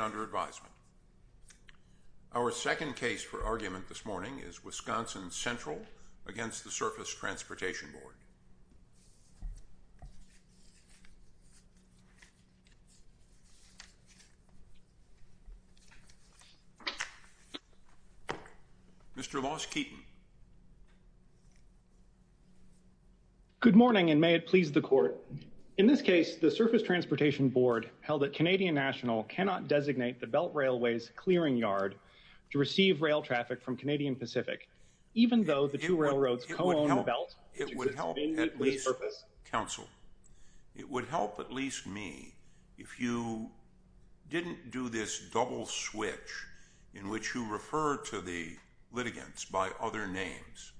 under advisement. Our second case for argument this morning is Wisconsin Central against the Surface Transportation Board. Mr. Los Keaton. Good morning and may it please the court. In this case the Canadian National cannot designate the Belt Railway's clearing yard to receive rail traffic from Canadian Pacific even though the two railroads co-own the belt which exists in the police service. It would help at least counsel, it would help at least me if you didn't do this double switch in which you refer to the litigants by other names.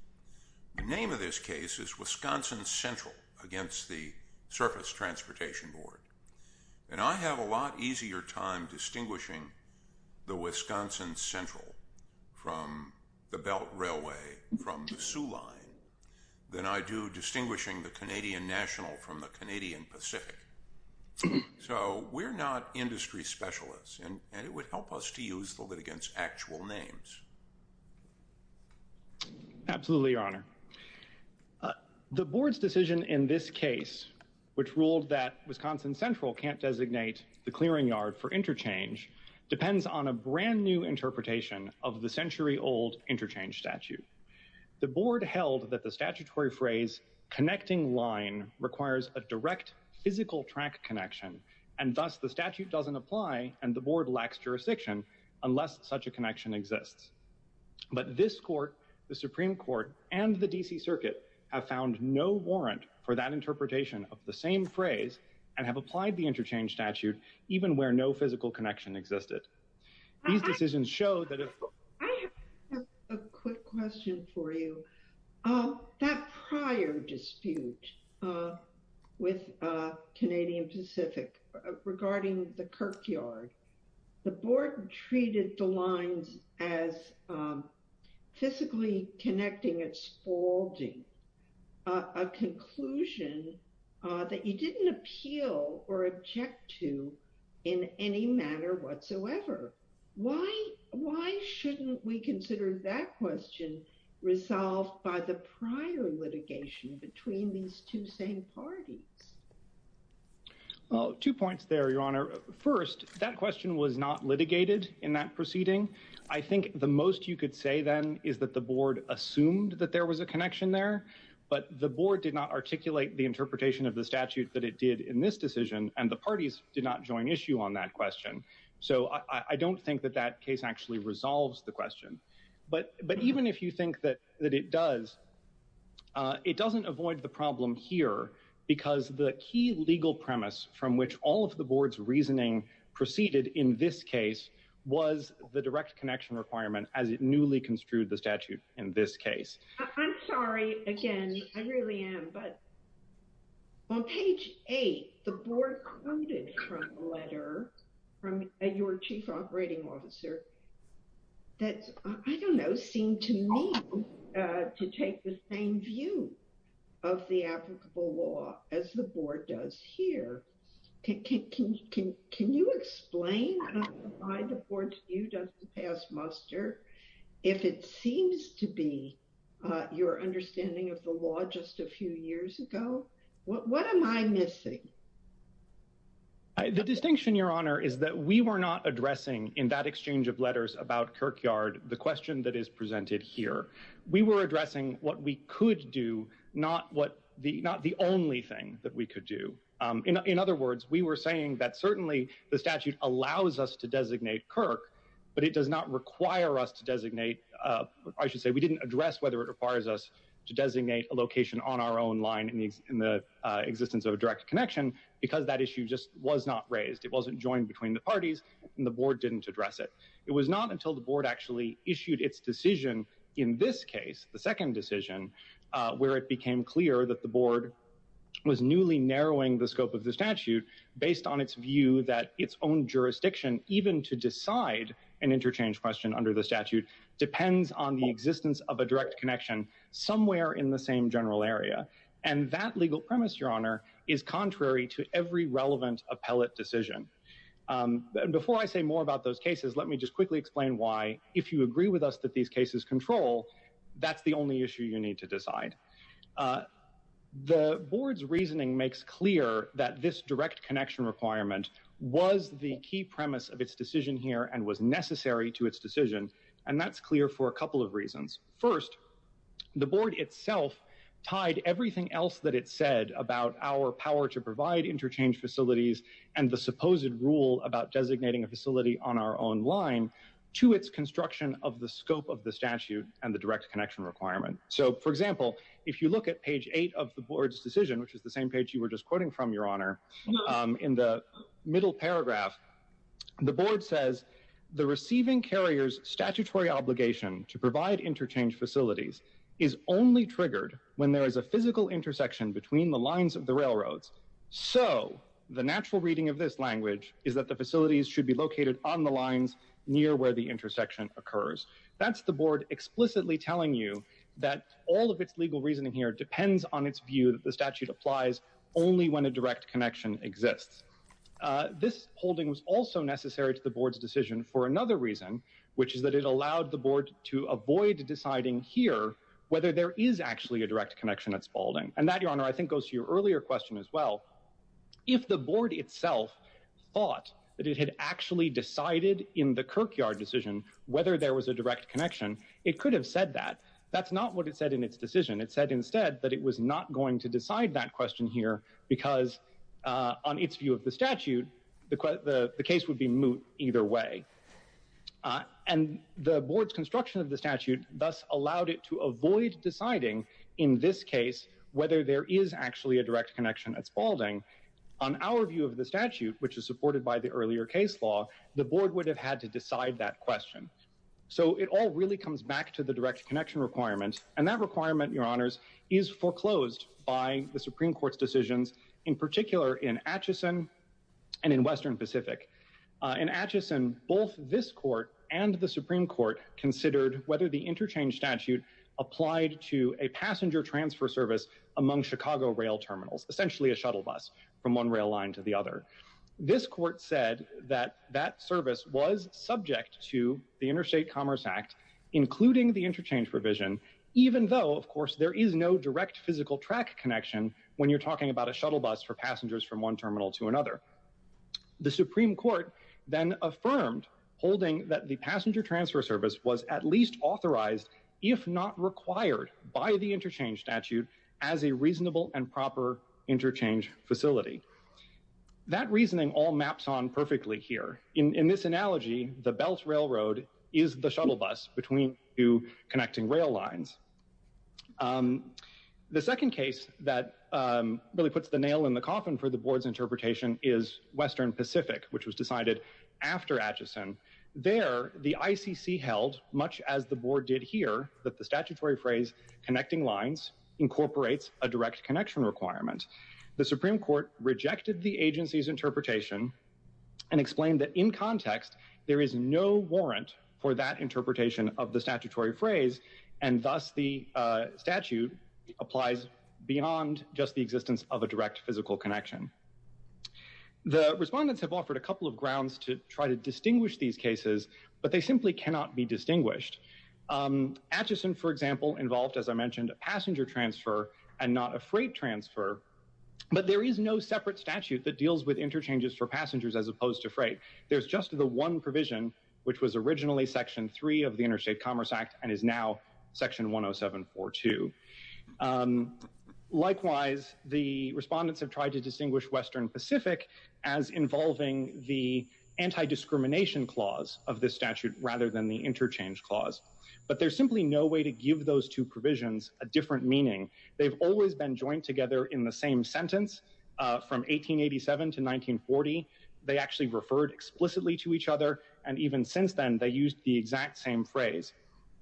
The name of this case is Wisconsin Central against the Surface Transportation Board and I have a lot easier time distinguishing the Wisconsin Central from the Belt Railway from the Sioux Line than I do distinguishing the Canadian National from the Canadian Pacific. So we're not industry specialists and it would help us to use the litigants actual names. Absolutely your honor. The board's decision in this case which ruled that Wisconsin Central can't designate the clearing yard for interchange depends on a brand new interpretation of the century-old interchange statute. The board held that the statutory phrase connecting line requires a direct physical track connection and thus the statute doesn't apply and the board lacks jurisdiction unless such a connection exists. But this court, the Supreme Court and the DC Circuit have found no warrant for that interpretation of the same phrase and have applied the interchange statute even where no physical connection existed. These decisions show that if... I have a quick question for you. That prior dispute with Canadian Pacific regarding the Kirkyard, the board treated the lines as physically connecting at Spalding a conclusion that you didn't appeal or object to in any manner whatsoever. Why why shouldn't we consider that question resolved by the prior litigation between these two same parties? Oh two points there your honor. First that question was not litigated in that proceeding. I think the most you could say then is that the board assumed that there was a connection there but the board did not articulate the interpretation of the statute that it did in this decision and the parties did not join issue on that question. So I don't think that that case actually resolves the question but but even if you think that that it does it doesn't avoid the problem here because the key legal premise from which all of the board's reasoning proceeded in this case was the direct connection requirement as it newly construed the statute in this case. I'm sorry again I really am but on page eight the board quoted from a letter from your chief operating officer that I don't know seemed to me to take the same view of the applicable law as the board does here. Can you explain why the board viewed as the past muster if it seems to be your understanding of the law just a few years ago? What am I missing? The distinction your honor is that we were not addressing in that exchange of letters about Kirkyard the question that is presented here. We were addressing what we could do not what the not the only thing that we could do. In other words we were saying that certainly the statute allows us to designate Kirk but it does not require us to designate I should say we didn't address whether it requires us to designate a location on our own line in the existence of a direct connection because that issue just was not raised. It wasn't joined between the parties and the board didn't address it. It was not until the board actually issued its decision in this case the second decision where it became clear that the board was newly narrowing the scope of the statute based on its view that its own jurisdiction even to decide an interchange question under the statute depends on the existence of a direct connection somewhere in the same general area and that legal premise your honor is contrary to every relevant appellate decision. Before I say more about those cases let me just quickly explain why if you agree with us that these cases control that's the only issue you need to decide. The board's reasoning makes clear that this direct connection requirement was the key premise of its decision here and was necessary to its decision and that's clear for a couple of reasons. First the board itself tied everything else that it said about our power to provide interchange facilities and the supposed rule about designating a facility on our own line to its construction of the scope of the statute and the direct connection requirement. So for example if you look at page 8 of the board's decision which is the same page you were just quoting from your honor in the middle paragraph the board says the receiving carriers statutory obligation to provide interchange facilities is only triggered when there is a physical intersection between the lines of the railroads. So the natural reading of this language is that the facilities should be located on the lines near where the intersection occurs. That's the board explicitly telling you that all of its legal reasoning here depends on its view that the statute applies only when a direct connection exists. This holding was also necessary to the board's decision for another reason which is that it allowed the board to avoid deciding here whether there is actually a direct connection at Spaulding and that your honor I think goes to your earlier question as well. If the board itself thought that it had actually decided in the Kirkyard decision whether there was a direct connection it could have said that. That's not what it said in its decision. It said instead that it was not going to decide that question here because on its view of the statute the case would be moot either way. And the board's construction of the statute thus allowed it to avoid deciding in this case whether there is actually a direct connection at Spaulding. On our view of the statute which is supported by the earlier case law the board would have had to decide that question. So it all really comes back to the direct connection requirement and that requirement your honors is foreclosed by the Supreme Court's decisions in particular in Atchison and in Western Pacific. In Atchison both this court and the Supreme Court considered whether the interchange statute applied to a passenger transfer service among Chicago rail terminals. Essentially a shuttle bus from one rail line to the other. This court said that that service was subject to the Interstate Commerce Act including the interchange provision even though of course there is no direct physical track connection when you're talking about a shuttle bus for passengers from one terminal to another. The Supreme Court then affirmed holding that the passenger transfer service was at least authorized if not required by the interchange statute as a reasonable and proper interchange facility. That reasoning all maps on perfectly here. In this analogy the Belt Railroad is the shuttle bus between two connecting rail lines. The second case that really puts the nail in the coffin for the board's interpretation is Western Pacific which was decided after Atchison. There the ICC held much as the board did here that the interchanging lines incorporates a direct connection requirement. The Supreme Court rejected the agency's interpretation and explained that in context there is no warrant for that interpretation of the statutory phrase and thus the statute applies beyond just the existence of a direct physical connection. The respondents have offered a couple of grounds to try to distinguish these cases but they simply cannot be distinguished. Atchison for I mentioned a passenger transfer and not a freight transfer but there is no separate statute that deals with interchanges for passengers as opposed to freight. There's just the one provision which was originally section 3 of the Interstate Commerce Act and is now section 10742. Likewise the respondents have tried to distinguish Western Pacific as involving the anti-discrimination clause of this statute rather than the interchange clause but there's simply no way to give those two provisions a different meaning. They've always been joined together in the same sentence from 1887 to 1940. They actually referred explicitly to each other and even since then they used the exact same phrase.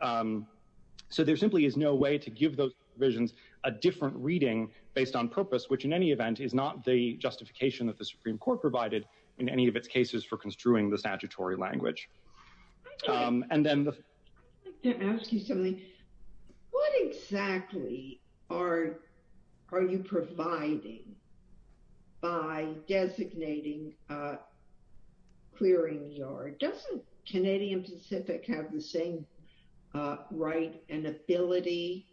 So there simply is no way to give those visions a different reading based on purpose which in any event is not the justification that the Supreme Court provided in any of its cases for construing the statutory language. I'd like to ask you something. What exactly are you providing by designating clearing yard? Doesn't Canadian Pacific have the same right and ability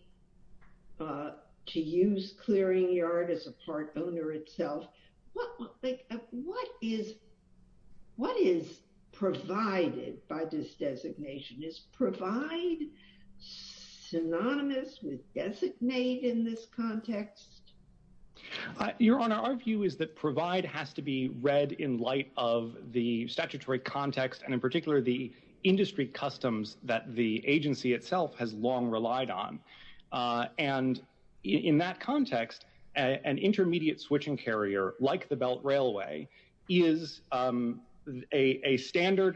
to use provided by this designation? Is provide synonymous with designate in this context? Your Honor, our view is that provide has to be read in light of the statutory context and in particular the industry customs that the agency itself has long relied on and in that context an intermediate switching carrier like the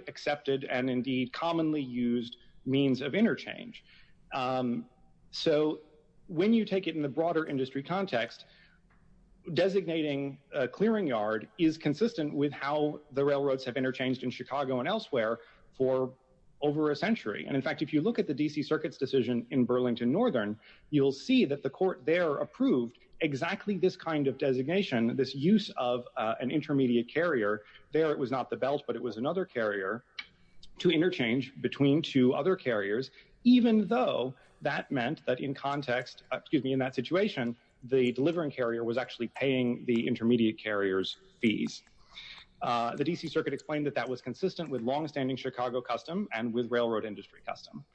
accepted and indeed commonly used means of interchange. So when you take it in the broader industry context designating a clearing yard is consistent with how the railroads have interchanged in Chicago and elsewhere for over a century and in fact if you look at the DC Circuit's decision in Burlington Northern you'll see that the court there approved exactly this kind of designation this use of an intermediate carrier there it was not the belt but it was another carrier to interchange between two other carriers even though that meant that in context excuse me in that situation the delivering carrier was actually paying the intermediate carriers fees. The DC Circuit explained that that was consistent with long-standing Chicago custom and with railroad industry custom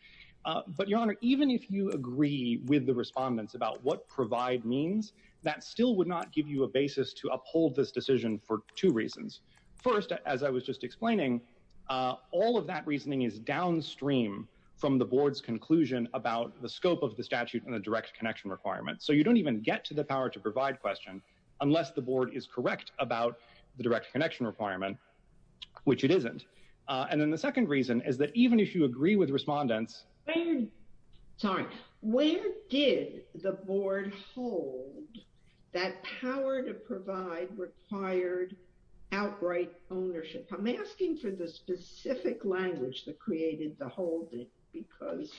but your honor even if you agree with the respondents about what provide means that still would not give you a basis to uphold this decision for two reasons. First as I was just explaining all of that reasoning is downstream from the board's conclusion about the scope of the statute and the direct connection requirement so you don't even get to the power to provide question unless the board is correct about the direct connection requirement which it isn't and then the second reason is that even if you agree with respondents sorry where did the board hold that power to provide required outright ownership I'm asking for the specific language that created the hold it because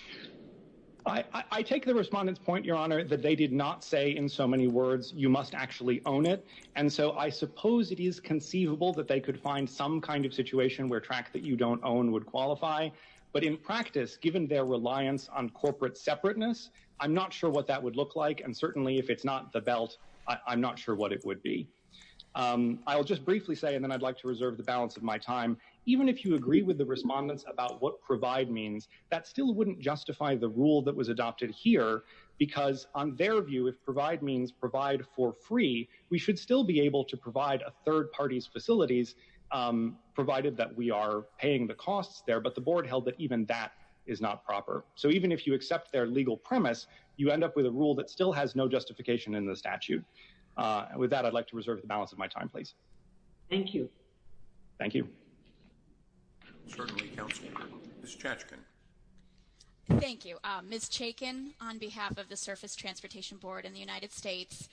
I I take the respondents point your honor that they did not say in so many words you must actually own it and so I suppose it is conceivable that they could find some kind of situation where track that you don't own would qualify but in practice given their reliance on corporate separateness I'm not sure what that would look like and certainly if it's not the belt I'm not sure what it would be I'll just briefly say and then I'd like to reserve the balance of my time even if you agree with the respondents about what provide means that still wouldn't justify the rule that was adopted here because on their view if provide means provide for free we should still be able to provide a third parties facilities provided that we are paying the costs there but the board held that even that is not proper so even if you accept their legal premise you end up with a rule that still has no justification in the statute with that I'd like to reserve the balance of my time please thank you thank you thank you miss Chaykin on behalf of the surface transportation board in the United States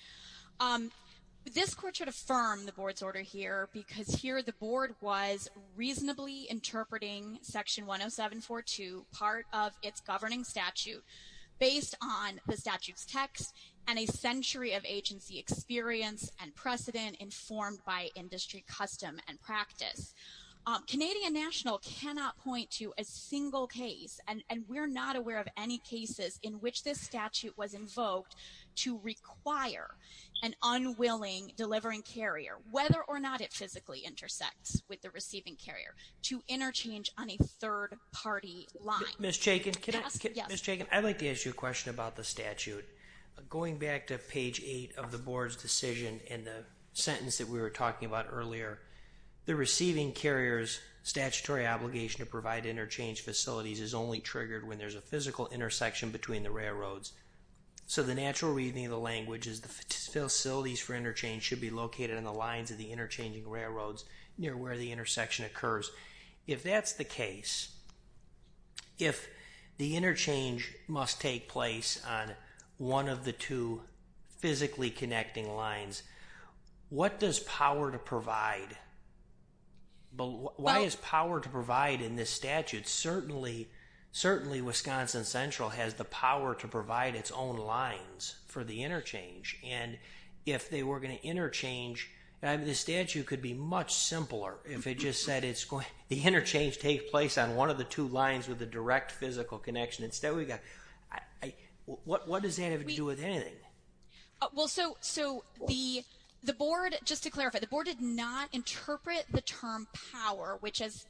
this court should affirm the board's order here because here the interpreting section 107 for two part of its governing statute based on the statutes text and a century of agency experience and precedent informed by industry custom and practice Canadian National cannot point to a single case and and we're not aware of any cases in which this statute was invoked to require an unwilling delivering carrier whether or not it physically intersects the receiving carrier to interchange on a third party line miss Chaykin can I miss Chaykin I'd like to ask you a question about the statute going back to page 8 of the board's decision in the sentence that we were talking about earlier the receiving carriers statutory obligation to provide interchange facilities is only triggered when there's a physical intersection between the railroads so the natural reading of the language is the facilities for interchange should be located on the lines of the interchanging railroads near where the intersection occurs if that's the case if the interchange must take place on one of the two physically connecting lines what does power to provide but why is power to provide in this statute certainly certainly Wisconsin Central has the power to provide its own lines for the interchange and if they were going to interchange and the statute could be much simpler if it just said it's going the interchange take place on one of the two lines with the direct physical connection instead we got I what what does that have to do with anything well so so we the board just to clarify the board did not interpret the term power which as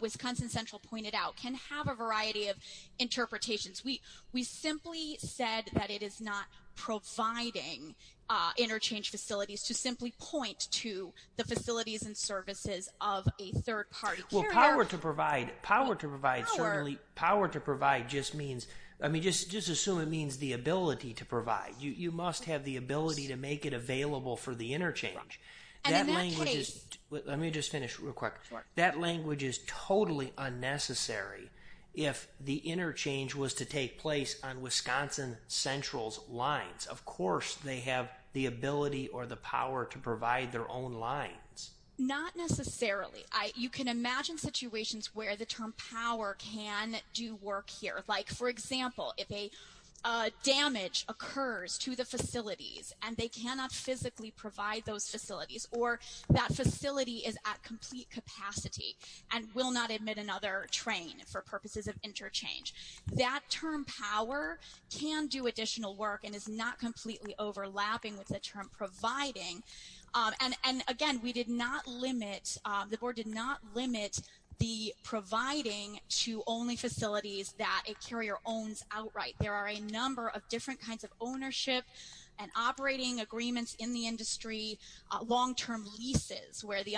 Wisconsin Central pointed out can have a variety of interpretations we we simply said that it is not providing interchange facilities to simply point to the facilities and services of a third party well power to provide power to provide certainly power to provide just means I mean just just assume it means the ability to provide you you must have the ability to make it available for the interchange let me just finish real quick that language is totally unnecessary if the interchange was to take place on Wisconsin Central's lines of course they have the ability or the power to provide their own lines not necessarily I you can imagine situations where the term power can do work here like for example if a damage occurs to the facilities and they cannot physically provide those facilities or that facility is at complete capacity and will not admit another train for purposes of interchange that term power can do additional work and is not completely overlapping with the term providing and and again we did not limit the board did not limit the providing to only facilities that a carrier owns outright there are a number of different kinds of ownership and operating agreements in the industry long-term leases where the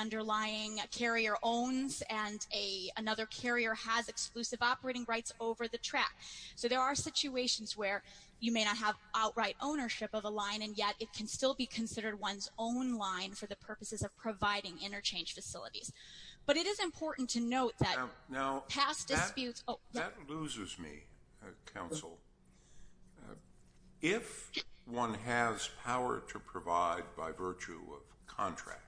carrier has exclusive operating rights over the track so there are situations where you may not have outright ownership of a line and yet it can still be considered one's own line for the purposes of providing interchange facilities but it is important to note that no past disputes loses me counsel if one has power to provide by virtue of contract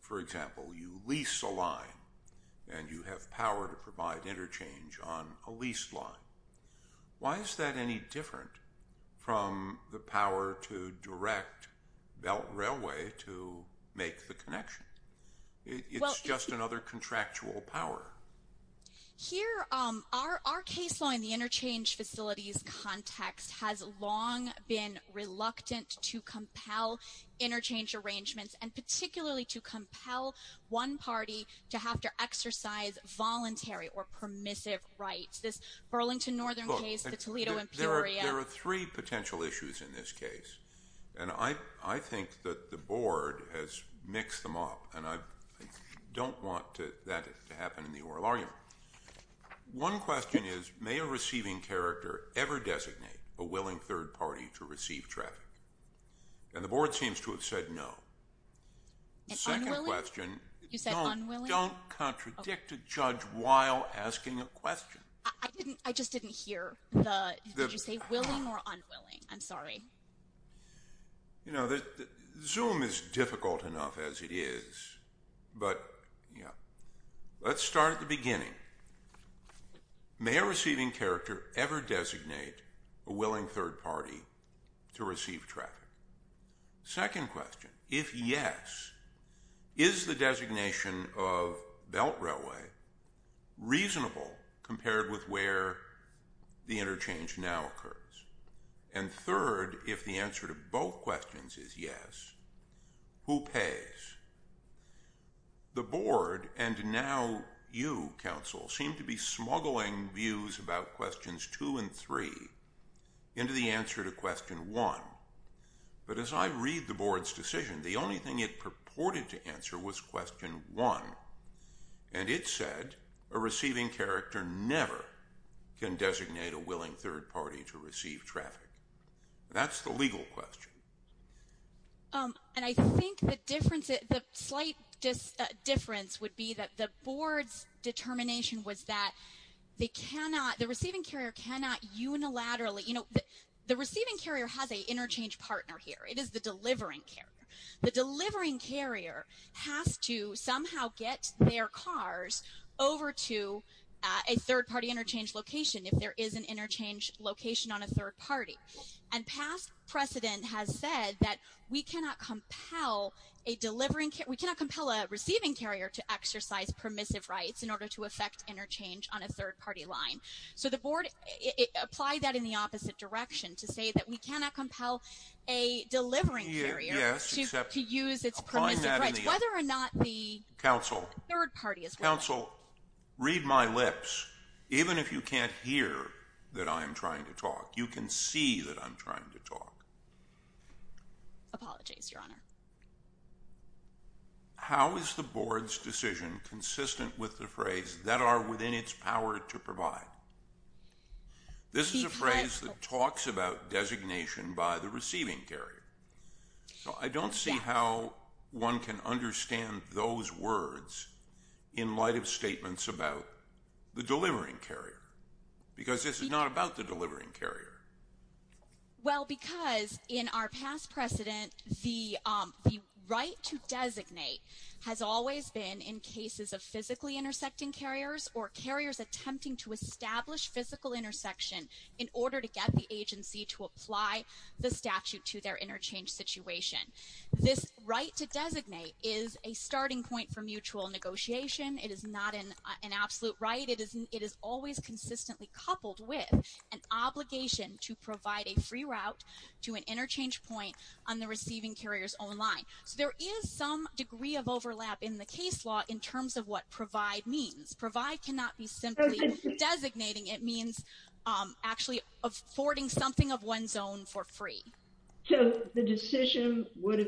for example you lease a line and you have power to provide interchange on a lease line why is that any different from the power to direct belt railway to make the connection it's just another contractual power here our case law in the interchange facilities context has long been reluctant to compel interchange arrangements and exercise voluntary or permissive rights this Burlington northern there are three potential issues in this case and I I think that the board has mixed them up and I don't want that to happen in the oral argument one question is may a receiving character ever designate a willing third party to receive traffic and the board seems to have said no second question you said unwilling don't contradict a judge while asking a question I didn't I just didn't hear I'm sorry you know that zoom is difficult enough as it is but yeah let's start at the beginning may a receiving character ever designate a willing third party to second question if yes is the designation of belt railway reasonable compared with where the interchange now occurs and third if the answer to both questions is yes who pays the board and now you counsel seem to be smuggling views about questions two and three into the answer to question one but as I read the board's decision the only thing it purported to answer was question one and it said a receiving character never can designate a willing third party to receive traffic that's the legal question and I think the difference it slight difference would be that the board's determination was that they cannot the receiving carrier cannot unilaterally you know the receiving carrier has a interchange partner here it is the delivering care the delivering carrier has to somehow get their cars over to a third party interchange location if there is an interchange location on a third party and past precedent has said that we cannot compel a delivering we cannot compel a receiving carrier to exercise permissive rights in order to affect interchange on a third party line so the board apply that in the opposite direction to say that we cannot compel a delivering area to use its whether or not the council third party as well so read my lips even if you can't hear that I'm trying to apologies your honor how is the board's decision consistent with the phrase that are within its power to provide this is a phrase that talks about designation by the receiving carrier so I don't see how one can understand those words in light of statements about the delivering carrier because this is not about the in our past precedent the right to designate has always been in cases of physically intersecting carriers or carriers attempting to establish physical intersection in order to get the agency to apply the statute to their interchange situation this right to designate is a starting point for mutual negotiation it is not in an absolute right it isn't it is always consistently coupled with an obligation to provide a free route to an interchange point on the receiving carriers online so there is some degree of overlap in the case law in terms of what provide means provide cannot be simply designating it means actually affording something of one's own for free so the decision would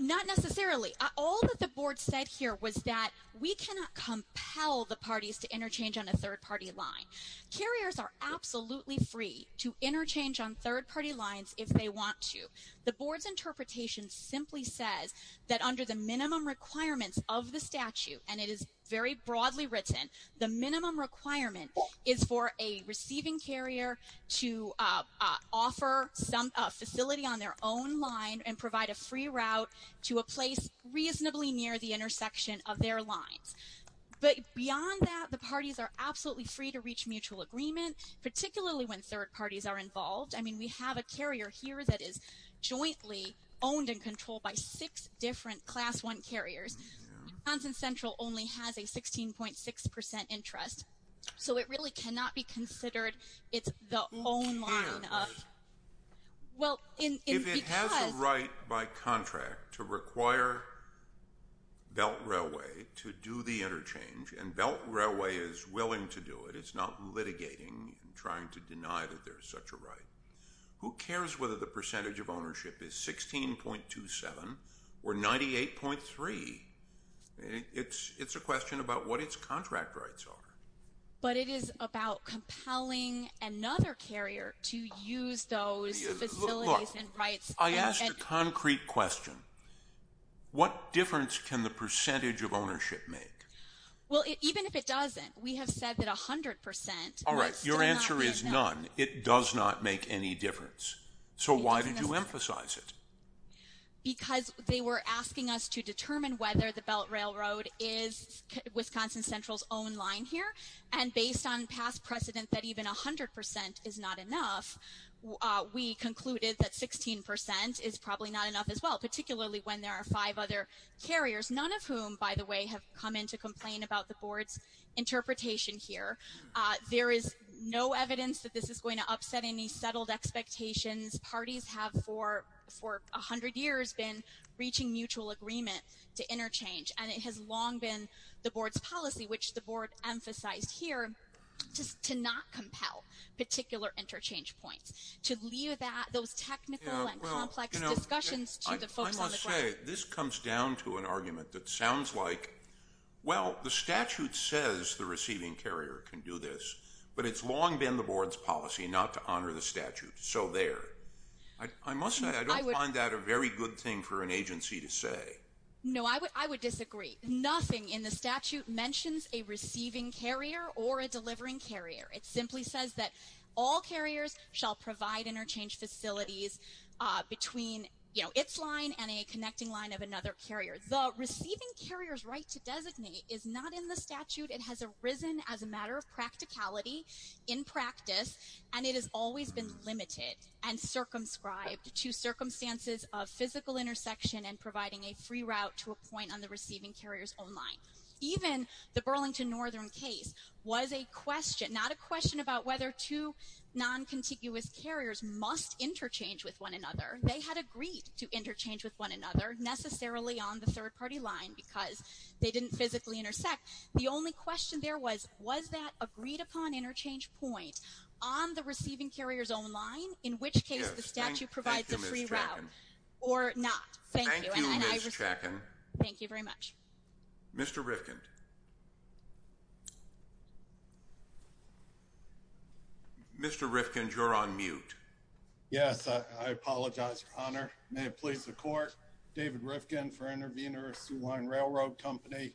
not necessarily all that the board said here was that we cannot compel the parties to interchange on a third party line carriers are absolutely free to interchange on third party lines if they want to the board's interpretation simply says that under the minimum requirements of the statute and it is very broadly written the minimum requirement is for a receiving carrier to offer some facility on their own line and provide a free route to a place reasonably near the intersection of their lines but beyond that the parties are absolutely free to reach mutual agreement particularly when third parties are involved I mean we have a carrier here that is jointly owned and controlled by six different class one carriers and central only has a sixteen it's the right by contract to require Belt Railway to do the interchange and Belt Railway is willing to do it it's not litigating trying to deny that there's such a right who cares whether the percentage of ownership is sixteen point two seven or ninety eight point three it's it's a question about what compelling another carrier to use those I asked a concrete question what difference can the percentage of ownership make well even if it doesn't we have said that a hundred percent all right your answer is none it does not make any difference so why did you emphasize it because they were asking us to determine whether the Belt Railroad is Wisconsin Central's own line here and based on past precedent that even a hundred percent is not enough we concluded that sixteen percent is probably not enough as well particularly when there are five other carriers none of whom by the way have come in to complain about the board's interpretation here there is no evidence that this is going to upset any settled expectations parties have for for a hundred years been reaching mutual agreement to interchange and it has long been the board's policy which the board emphasized here just to not compel particular interchange points to leave that those technical and complex discussions this comes down to an argument that sounds like well the statute says the receiving carrier can do this but it's long been the board's policy not to honor the statute so there I must say I don't find that a very good to say no I would I would disagree nothing in the statute mentions a receiving carrier or a delivering carrier it simply says that all carriers shall provide interchange facilities between you know its line and a connecting line of another carrier the receiving carriers right to designate is not in the statute it has arisen as a matter of practicality in practice and it has always been limited and circumscribed to circumstances of physical intersection and providing a free route to a point on the receiving carriers online even the Burlington Northern case was a question not a question about whether to non-contiguous carriers must interchange with one another they had agreed to interchange with one another necessarily on the third-party line because they didn't physically intersect the only question there was was that agreed-upon interchange point on the receiving or not thank you thank you very much mr. Rifkind mr. Rifkind you're on mute yes I apologize for honor may it please the court David Rifkin for interveners line railroad company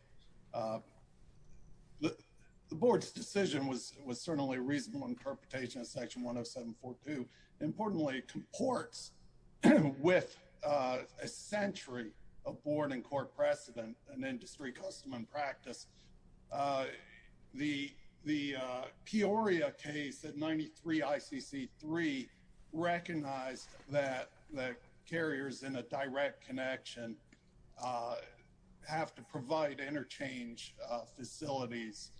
the board's decision was was certainly reasonable interpretation of section 107 42 importantly comports with a century of board and court precedent and industry custom and practice the the Peoria case at 93 ICC 3 recognized that the carriers in a direct connection have to provide interchange facilities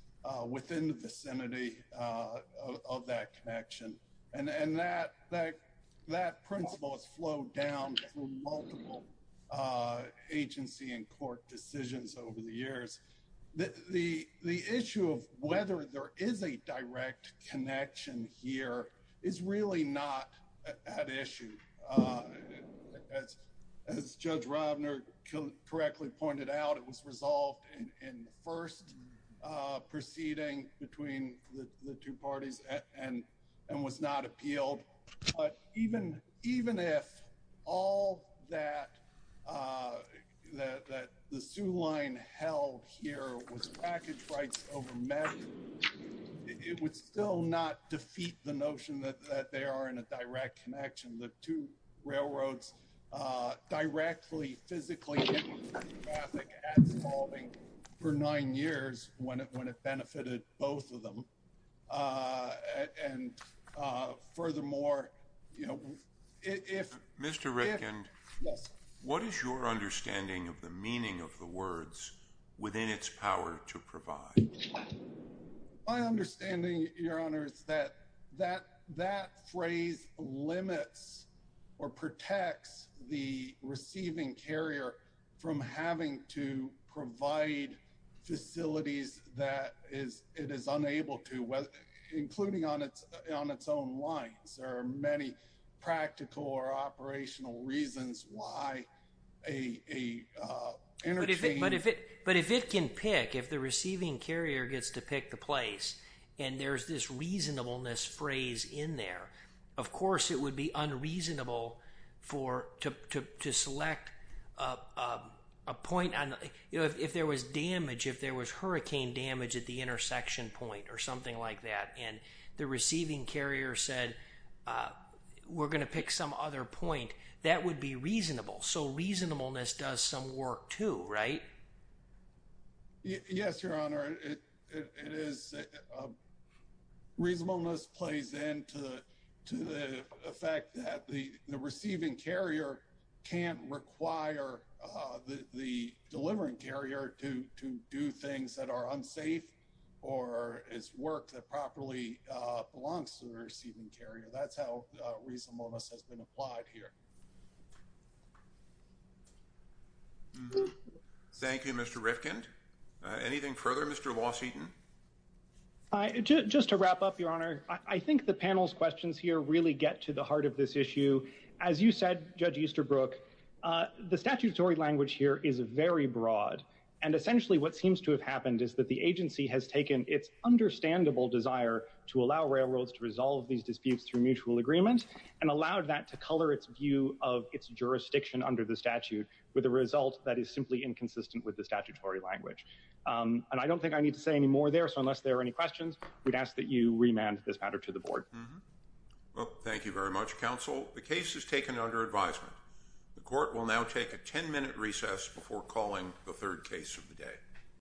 within the vicinity of that connection and and that like that principles flow down multiple agency and court decisions over the years the the the issue of whether there is a direct connection here is really issue as judge Robner correctly pointed out it was resolved in first proceeding between the two parties and and was not appealed but even even if all that the sue line held here was package rights over met it would still not defeat the direct connection the two railroads directly physically for nine years when it when it benefited both of them and furthermore you know if mr. Rifkin what is your understanding of the meaning of the words within its power to provide my limits or protects the receiving carrier from having to provide facilities that is it is unable to whether including on its on its own lines there are many practical or operational reasons why a but if it but if it can pick if the receiving carrier gets to pick the place and there's this course it would be unreasonable for to select a point on if there was damage if there was hurricane damage at the intersection point or something like that and the receiving carrier said we're going to pick some other point that would be reasonable so reasonableness does some work too right yes your honor it is reasonableness plays in to the effect that the the receiving carrier can't require the delivering carrier to to do things that are unsafe or its work that properly belongs to the receiving carrier that's reasonableness has been applied here thank you mr. Rifkin anything further mr. Washington I just to wrap up your honor I think the panels questions here really get to the heart of this issue as you said judge Easterbrook the statutory language here is very broad and essentially what seems to have happened is that the agency has taken its understandable desire to allow railroads to resolve these disputes through mutual agreement and allowed that to color its view of its jurisdiction under the statute with a result that is simply inconsistent with the statutory language and I don't think I need to say any more there so unless there are any questions we'd ask that you remand this matter to the board well thank you very much counsel the case is taken under advisement the court will now take a 10-minute recess before calling the third case of the day